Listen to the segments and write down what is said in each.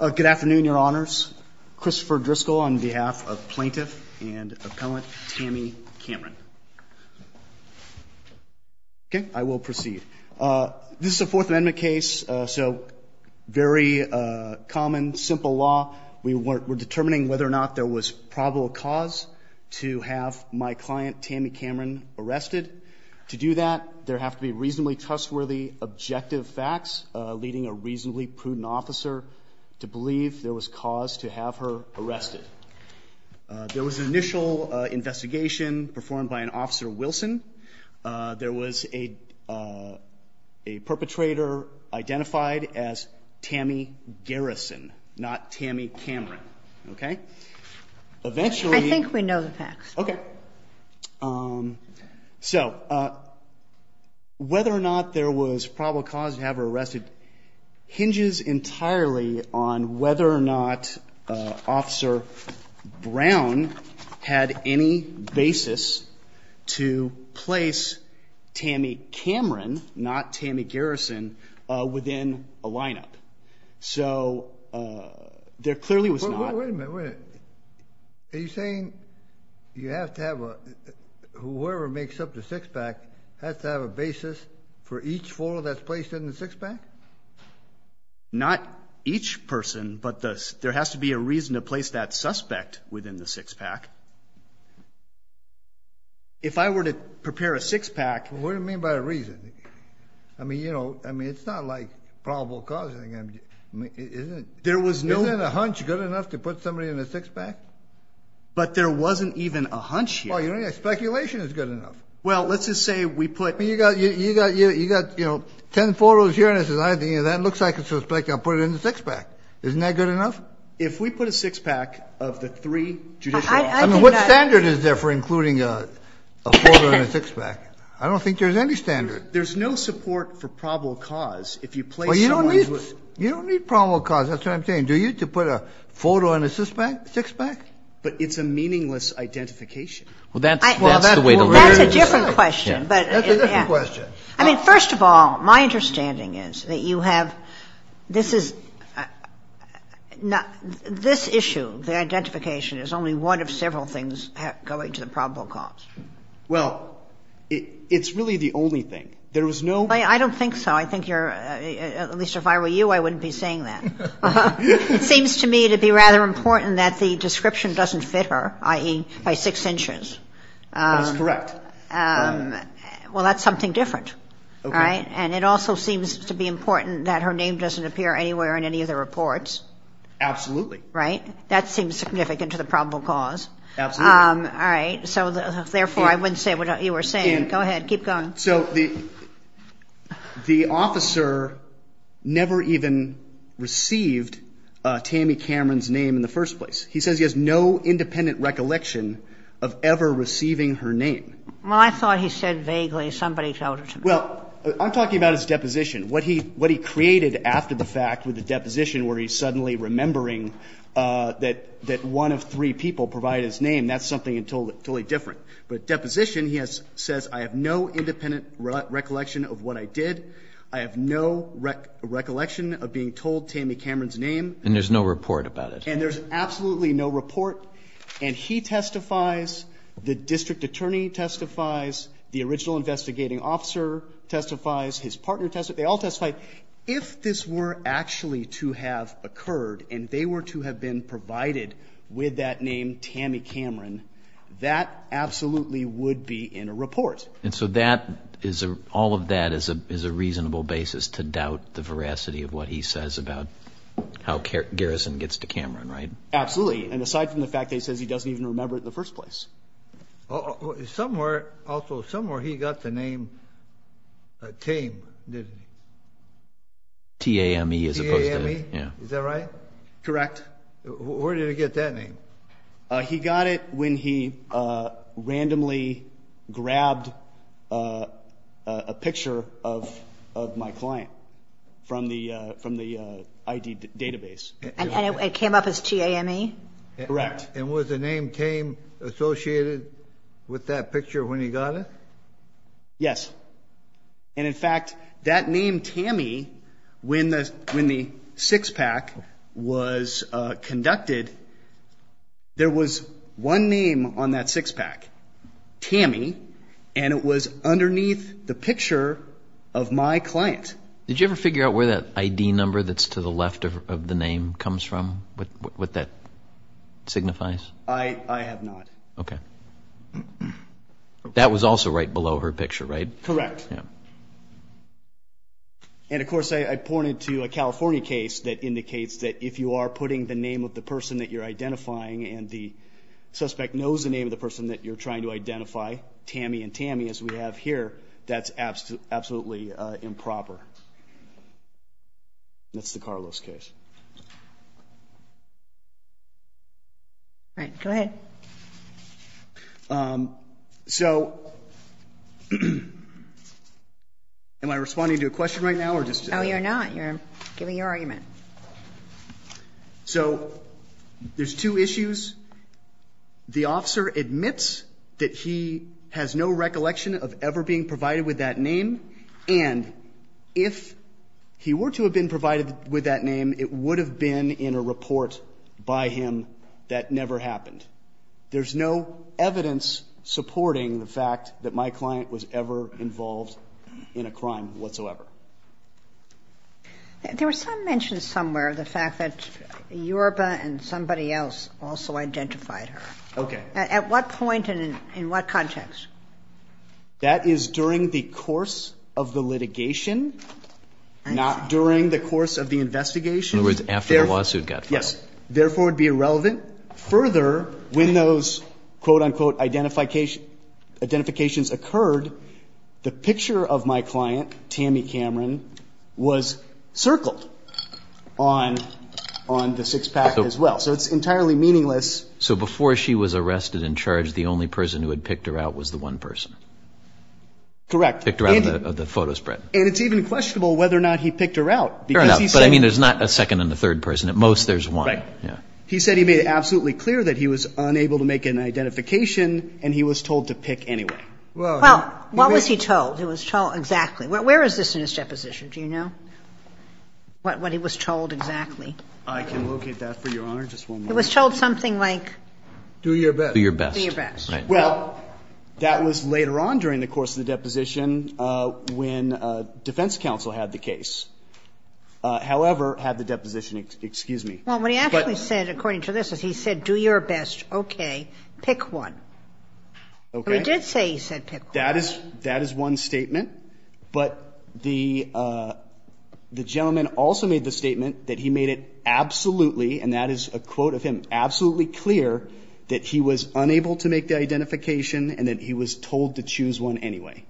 Good afternoon, Your Honors. Christopher Driscoll on behalf of Plaintiff and Appellant Tammy Cameron. I will proceed. This is a Fourth Amendment case, so very common, simple law. We're determining whether or not there was probable cause to have my client, Tammy Cameron, arrested. To do that, there have to be reasonably trustworthy, objective facts leading a reasonably prudent officer to believe there was cause to have her arrested. There was an initial investigation performed by an Officer Wilson. There was a perpetrator identified as Tammy Garrison, not Tammy Cameron. Okay? Eventually... Whether or not there was probable cause to have her arrested hinges entirely on whether or not Officer Brown had any basis to place Tammy Cameron, not Tammy Garrison, within a lineup. There clearly was not. Wait a minute. Are you saying you have to have a... Whoever makes up the six-pack has to have a basis for each photo that's placed in the six-pack? Not each person, but there has to be a reason to place that suspect within the six-pack. If I were to prepare a six-pack... What do you mean by a reason? I mean, you know, it's not like probable cause. Isn't a hunch good enough to put somebody in a six-pack? But there wasn't even a hunch yet. Speculation is good enough. Well, let's just say we put... You got ten photos here, and I said, that looks like a suspect. I'll put it in the six-pack. Isn't that good enough? If we put a six-pack of the three judicial... I mean, what standard is there for including a photo in a six-pack? I don't think there's any standard. There's no support for probable cause if you place someone... You don't need probable cause. That's what I'm saying. Do you need to put a photo in a six-pack? But it's a meaningless identification. Well, that's the way to look at it. That's a different question. I mean, first of all, my understanding is that you have... This is... This issue, the identification, is only one of several things going to the probable cause. Well, it's really the only thing. There is no... I don't think so. I think you're... At least if I were you, I wouldn't be saying that. It seems to me to be rather important that the description doesn't fit her, i.e., by six inches. That's correct. Well, that's something different, right? And it also seems to be important that her name doesn't appear anywhere in any of the reports. Absolutely. Right? That seems significant to the probable cause. Absolutely. All right. So therefore, I wouldn't say what you were saying. Go ahead. Keep going. So the officer never even received Tammy Cameron's name in the first place. He says he has no independent recollection of ever receiving her name. Well, I thought he said vaguely. Somebody told her to me. Well, I'm talking about his deposition. What he created after the fact with the deposition where he's suddenly remembering that one of three people provided his name, that's something totally different. But deposition, he says, I have no independent recollection of what I did. I have no recollection of being told Tammy Cameron's name. And there's no report about it. And there's absolutely no report. And he testifies, the district attorney testifies, the original investigating officer testifies, his partner testifies. They all testify. If this were actually to have occurred and they were to have been provided with that name, Tammy Cameron, that absolutely would be in a report. And so that is a, all of that is a reasonable basis to doubt the veracity of what he says about how Garrison gets to Cameron, right? Absolutely. And aside from the fact that he says he doesn't even remember it in the first place. Somewhere, also, somewhere he got the name Tame, didn't he? T-A-M-E as opposed to. T-A-M-E? Is that right? Correct. Where did he get that name? He got it when he randomly grabbed a picture of my client from the ID database. And it came up as T-A-M-E? Correct. And was the name Tame associated with that picture when he got it? Yes. And in fact, that name Tammy, when the six-pack was conducted, there was one name on that six-pack, Tammy, and it was underneath the picture of my client. Did you ever figure out where that ID number that's to the left of the name comes from, what that signifies? I have not. Okay. That was also right below her picture, right? Correct. And of course, I pointed to a California case that indicates that if you are putting the name of the person that you're identifying and the suspect knows the name of the person that you're trying to identify, Tammy and Tammy, as we have here, that's absolutely improper. That's the Carlos case. All right. Go ahead. Okay. So am I responding to a question right now? No, you're not. You're giving your argument. So there's two issues. The officer admits that he has no recollection of ever being provided with that name, and if he were to have been provided with that name, it would have been in a report by him that never happened. There's no evidence supporting the fact that my client was ever involved in a crime whatsoever. There were some mentions somewhere of the fact that Yorba and somebody else also identified her. Okay. At what point and in what context? That is during the course of the litigation, not during the course of the investigation. In other words, after the lawsuit got filed. Yes. Therefore, it would be irrelevant. Further, when those, quote-unquote, identifications occurred, the picture of my client, Tammy Cameron, was circled on the six-pack as well. So it's entirely meaningless. So before she was arrested and charged, the only person who had picked her out was the one person? Correct. Picked her out of the photo spread. And it's even questionable whether or not he picked her out. Fair enough. But I mean, there's not a second and a third person. At most, there's one. Right. He said he made it absolutely clear that he was unable to make an identification, and he was told to pick anyway. Well, what was he told? He was told exactly. Where is this in his deposition? Do you know what he was told exactly? I can locate that for Your Honor, just one moment. It was told something like... Do your best. Do your best. Do your best. Well, that was later on during the course of the deposition when defense counsel had the case. However, had the deposition... Excuse me. Well, what he actually said, according to this, is he said, do your best. Okay. Pick one. Okay. He did say he said pick one. That is one statement. But the gentleman also made the statement that he made it absolutely, and that is a quote of him, absolutely clear that he was unable to make the identification and that he was told to choose one anyway.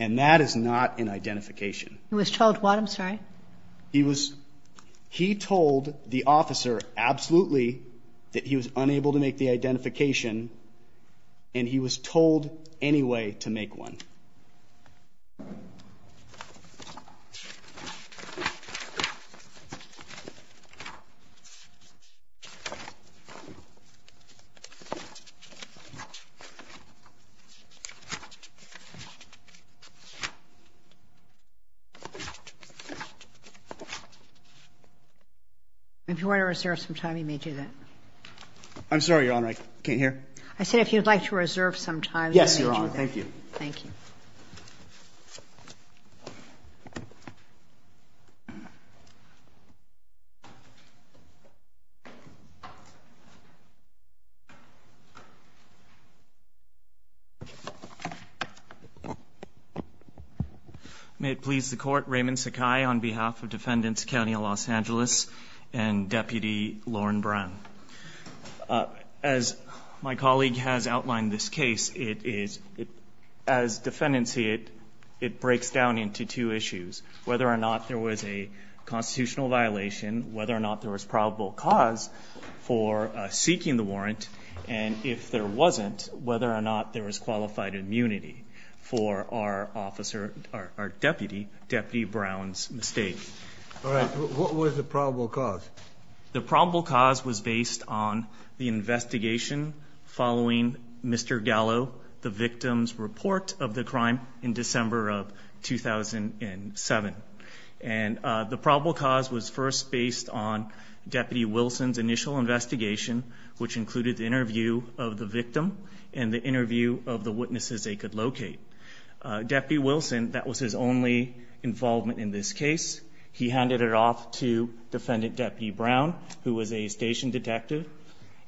And that is not an identification. He was told what? I'm sorry. He was... He told the officer absolutely that he was unable to make the identification, and he was told anyway to make one. If you want to reserve some time, you may do that. I'm sorry, Your Honor. I can't hear. I said if you would like to reserve some time, you may do that. Yes, Your Honor. Thank you. Thank you. May it please the Court, Raymond Sakai on behalf of Defendants County of Los Angeles and Deputy Lauren Brown. As my colleague has outlined this case, it is, as defendants see it, it breaks down into two issues, whether or not there was a constitutional violation, whether or not there was probable cause for seeking the warrant, and if there wasn't, whether or not there was qualified immunity for our officer, our deputy, Deputy Brown's mistake. All right. What was the probable cause? The probable cause was based on the investigation following Mr. Gallo, the victim's report of the crime in December of 2007. And the probable cause was first based on Deputy Wilson's initial investigation, which included the interview of the victim and the interview of the witnesses they could locate. Deputy Wilson, that was his only involvement in this case. He handed it off to Defendant Deputy Brown, who was a station detective,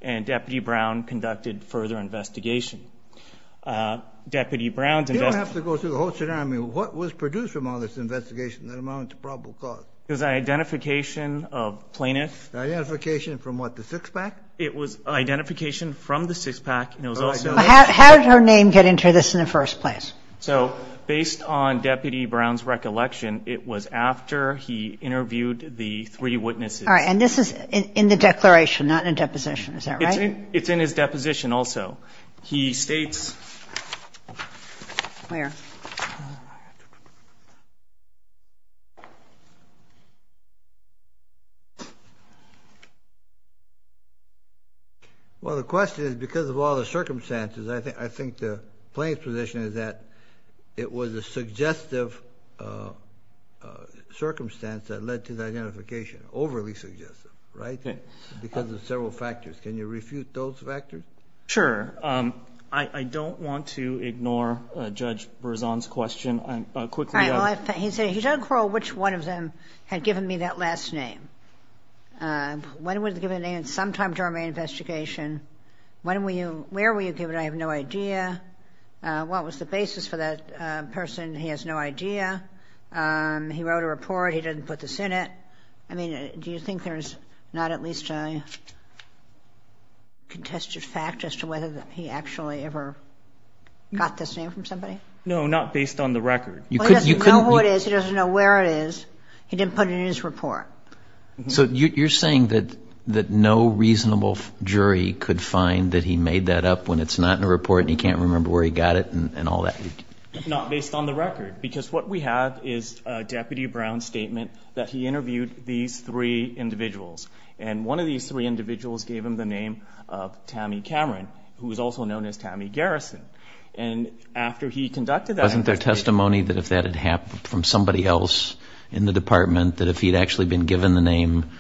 and Deputy Brown conducted further investigation. Deputy Brown's investigation... You don't have to go through the whole tsunami. What was produced from all this investigation that amounts to probable cause? It was identification of plaintiffs. Identification from what, the six-pack? It was identification from the six-pack, and it was also... In Deputy Brown's recollection, it was after he interviewed the three witnesses. All right. And this is in the declaration, not in a deposition. Is that right? It's in his deposition also. He states... Where? Well, the question is, because of all the circumstances, I think the plaintiff's position is that it was a suggestive circumstance that led to the identification. Overly suggestive, right? Because of several factors. Can you refute those factors? Sure. I don't want to ignore Judge Berzon's question. All right. He said, he doesn't recall which one of them had given me that last name. When was it given the name? Sometime during my investigation. Where were you given? I have no idea. What was the basis for that person? He has no idea. He wrote a report. He didn't put this in it. I mean, do you think there's not at least a contested fact as to whether he actually ever got this name from somebody? No, not based on the record. He doesn't know who it is. He doesn't know where it is. He didn't put it in his report. So you're saying that no reasonable jury could find that he made that up when it's not in a report and he can't remember where he got it and all that? Not based on the record, because what we have is a Deputy Brown statement that he interviewed these three individuals. And one of these three individuals gave him the name of Tammy Cameron, who was also known as Tammy Garrison. And after he conducted that... Wasn't there testimony that if that had happened from somebody else in the department, that if he'd actually been given the name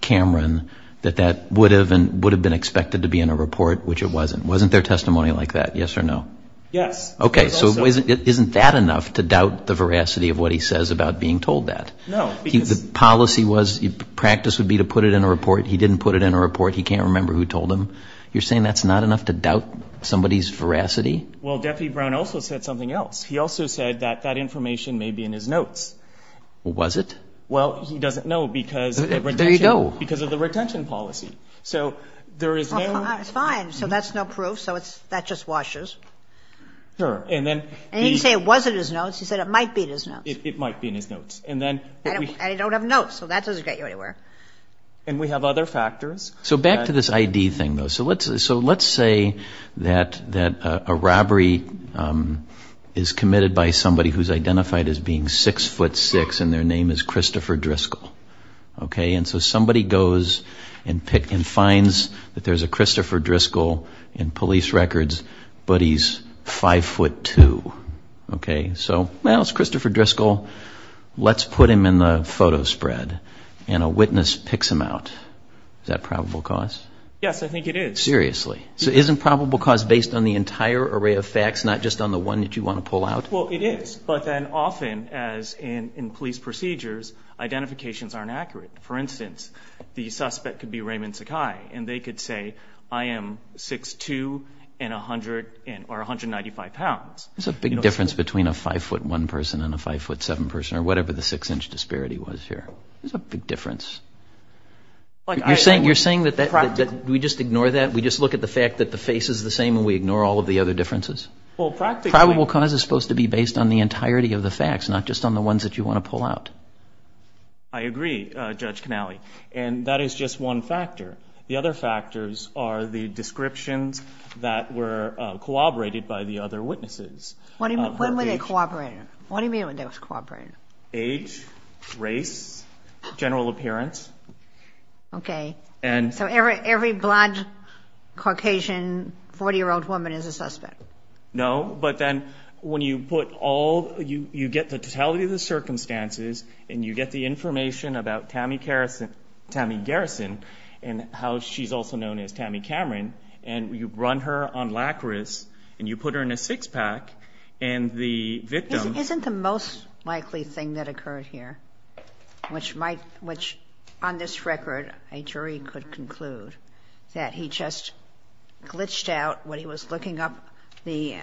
Cameron, that that would have been expected to be in a report, which it wasn't? Wasn't there testimony like that, yes or no? Yes. Okay. So isn't that enough to doubt the veracity of what he says about being told that? No, because... The policy was, the practice would be to put it in a report. He didn't put it in a report. He can't remember who told him. You're saying that's not enough to doubt somebody's veracity? Well, Deputy Brown also said something else. He also said that that information may be in his notes. Was it? Well, he doesn't know, because of the retention policy. Fine. So that's no proof. So that just washes. And he didn't say it was in his notes. He said it might be in his notes. It might be in his notes. I don't have notes, so that doesn't get you anywhere. And we have other factors. So back to this ID thing, though. So let's say that a robbery is committed by somebody who's identified as being 6'6", and their name is Christopher Driscoll. And so somebody goes and finds that there's a Christopher Driscoll in police records, but he's 5'2". Okay. So, well, it's Christopher Driscoll. Let's put him in the photo spread. And a witness picks him out. Is that probable cause? Yes, I think it is. Seriously? So isn't probable cause based on the entire array of facts, not just on the one that you want to pull out? Well, it is. But then often, as in police procedures, identifications aren't accurate. For instance, the suspect could be Raymond Sakai, and they could say, I am 6'2", or 195 pounds. There's a big difference between a 5'1 person and a 5'7 person, or whatever the 6-inch disparity was here. There's a big difference. You're saying that we just ignore that? We just look at the fact that the face is the same and we ignore all of the other differences? Probable cause is supposed to be based on the entirety of the facts, not just on the ones that you want to pull out. I agree, Judge Canale. And that is just one factor. The other factors are the descriptions that were corroborated by the other witnesses. When were they corroborated? What do you mean when they were corroborated? Age, race, general appearance. Okay. So every blonde, Caucasian, 40-year-old woman is a suspect? No, but then when you put all, you get the totality of the circumstances, and you get the information about Tammy Garrison, and how she's also known as Tammy Cameron, and you run her on lachrys, and you put her in a six-pack, and the victim... Isn't the most likely thing that occurred here, which on this record a jury could conclude, that he just glitched out when he was looking up the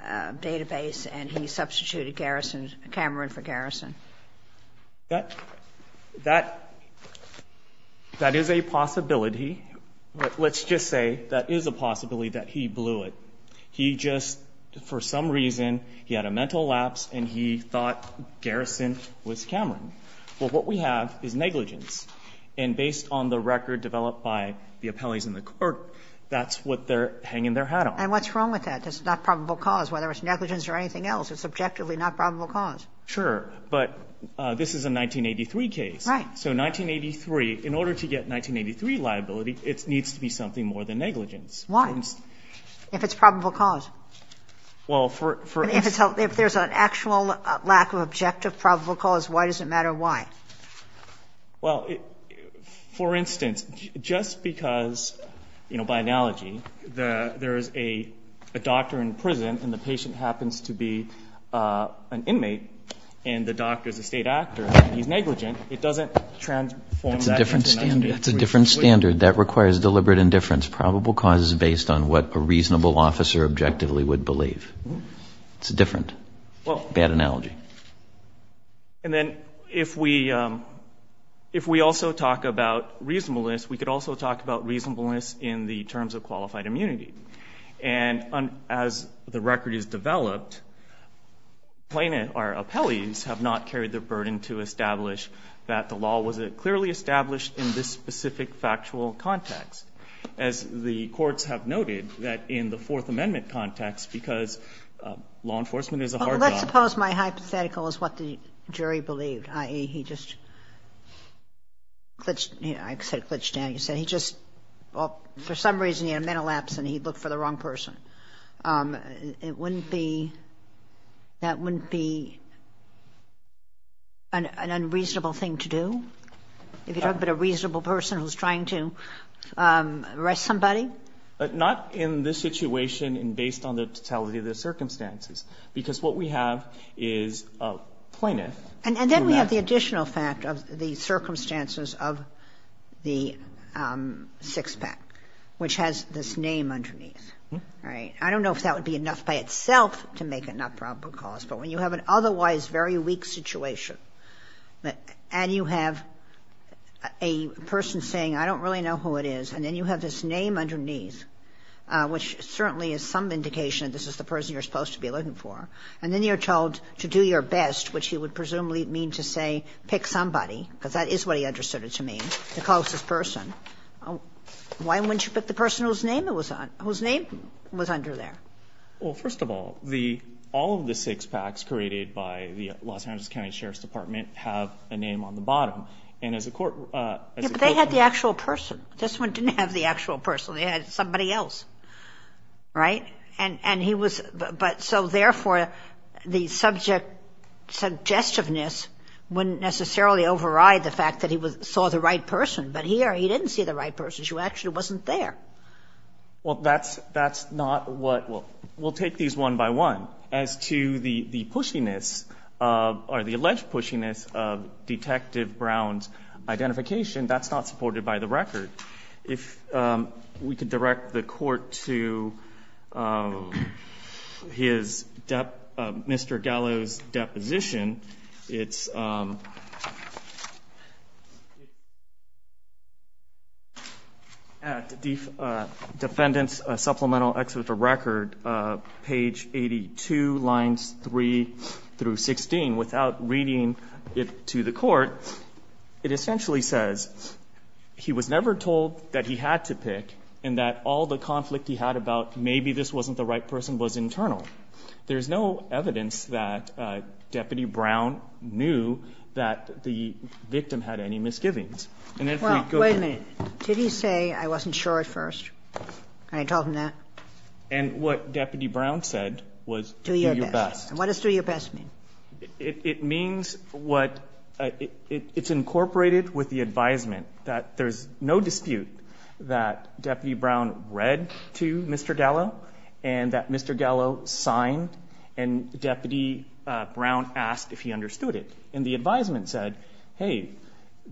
database and he substituted Cameron for Garrison? That is a possibility. Let's just say that is a possibility that he blew it. He just, for some reason, he had a mental lapse, and he thought Garrison was Cameron. Well, what we have is negligence. And based on the record developed by the appellees in the court, that's what they're hanging their hat on. And what's wrong with that? It's not probable cause, whether it's negligence or anything else. It's objectively not probable cause. Sure, but this is a 1983 case. Right. So 1983, in order to get 1983 liability, it needs to be something more than negligence. Why? If it's probable cause? Well, for instance... And if there's an actual lack of objective probable cause, why does it matter why? Well, for instance, just because, you know, by analogy, there is a doctor in prison, and the patient happens to be an inmate, and the doctor is a state actor, and he's negligent, it doesn't transform that into a... That's a different standard. That requires deliberate indifference. Probable cause is based on what a reasonable officer objectively would believe. It's a different, bad analogy. And then if we also talk about reasonableness, we could also talk about reasonableness in the terms of qualified immunity. And as the record is developed, plaintiff or appellees have not carried the burden to establish that the law was clearly established in this specific factual context. As the courts have noted, that in the Fourth Amendment context, because law enforcement is a hard job... Well, let's suppose my hypothetical is what the jury believed, i.e., he just glitched down. He said he just, for some reason, he had a mental lapse and he looked for the wrong person. That wouldn't be an unreasonable thing to do? If you're talking about a reasonable person who's trying to arrest somebody? Not in this situation and based on the totality of the circumstances, because what we have is a plaintiff... And then we have the additional fact of the circumstances of the six-pack, which has this name underneath, right? I don't know if that would be enough by itself to make it not probable cause, but when you have an otherwise very weak situation and you have a person saying, I don't really know who it is, and then you have this name underneath, which certainly is some indication that this is the person you're supposed to be looking for, and then you're told to do your best, which you would presumably mean to say pick somebody, because that is what he understood it to mean, the closest person, why wouldn't you pick the person whose name was under there? Well, first of all, all of the six-packs created by the Los Angeles County Sheriff's Department have a name on the bottom, and as a court... Yeah, but they had the actual person. This one didn't have the actual person. They had somebody else, right? And he was, but so therefore, the subject suggestiveness wouldn't necessarily override the fact that he saw the right person. But here, he didn't see the right person. She actually wasn't there. Well, that's not what we'll take these one by one. As to the pushiness or the alleged pushiness of Detective Brown's identification, that's not supported by the record. If we could direct the Court to Mr. Gallo's deposition, it's at Defendant's Supplemental Exhibit of Record, page 82, lines 3 through 16. And without reading it to the Court, it essentially says he was never told that he had to pick and that all the conflict he had about maybe this wasn't the right person was internal. There's no evidence that Deputy Brown knew that the victim had any misgivings. And if we go to... Well, wait a minute. Did he say, I wasn't sure at first, and I told him that? And what Deputy Brown said was, do your best. Do your best. And what does do your best mean? It means what... It's incorporated with the advisement that there's no dispute that Deputy Brown read to Mr. Gallo and that Mr. Gallo signed, and Deputy Brown asked if he understood it. And the advisement said, hey,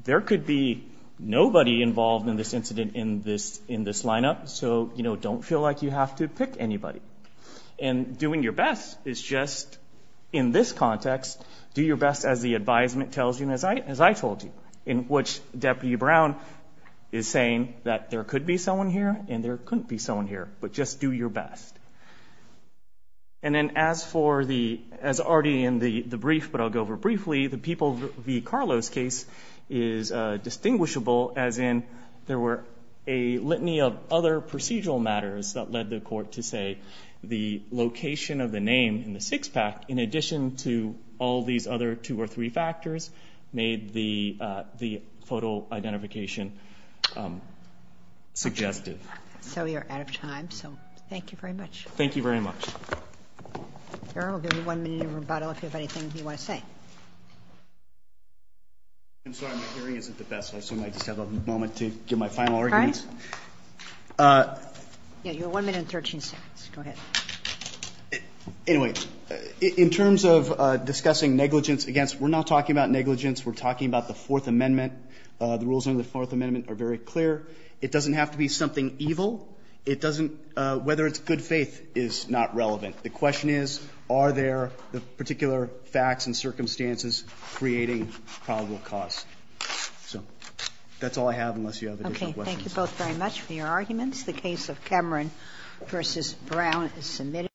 there could be nobody involved in this incident in this lineup, so don't feel like you have to pick anybody. And doing your best is just, in this context, do your best as the advisement tells you and as I told you, in which Deputy Brown is saying that there could be someone here and there couldn't be someone here, but just do your best. And then as for the... As already in the brief, but I'll go over briefly, the People v. Carlos case is distinguishable as in there were a litany of other procedural matters that led the court to say the location of the name in the six-pack, in addition to all these other two or three factors, made the photo identification suggestive. So you're out of time, so thank you very much. Thank you very much. We'll give you one minute of rebuttal if you have anything you want to say. I'm sorry. My hearing isn't the best, so I assume I just have a moment to give my final arguments. All right. You have one minute and 13 seconds. Go ahead. Anyway, in terms of discussing negligence against, we're not talking about negligence. We're talking about the Fourth Amendment. The rules under the Fourth Amendment are very clear. It doesn't have to be something evil. It doesn't – whether it's good faith is not relevant. The question is, are there particular facts and circumstances creating probable cause? So that's all I have unless you have additional questions. Okay. Thank you both very much for your arguments. The case of Cameron v. Brown is submitted.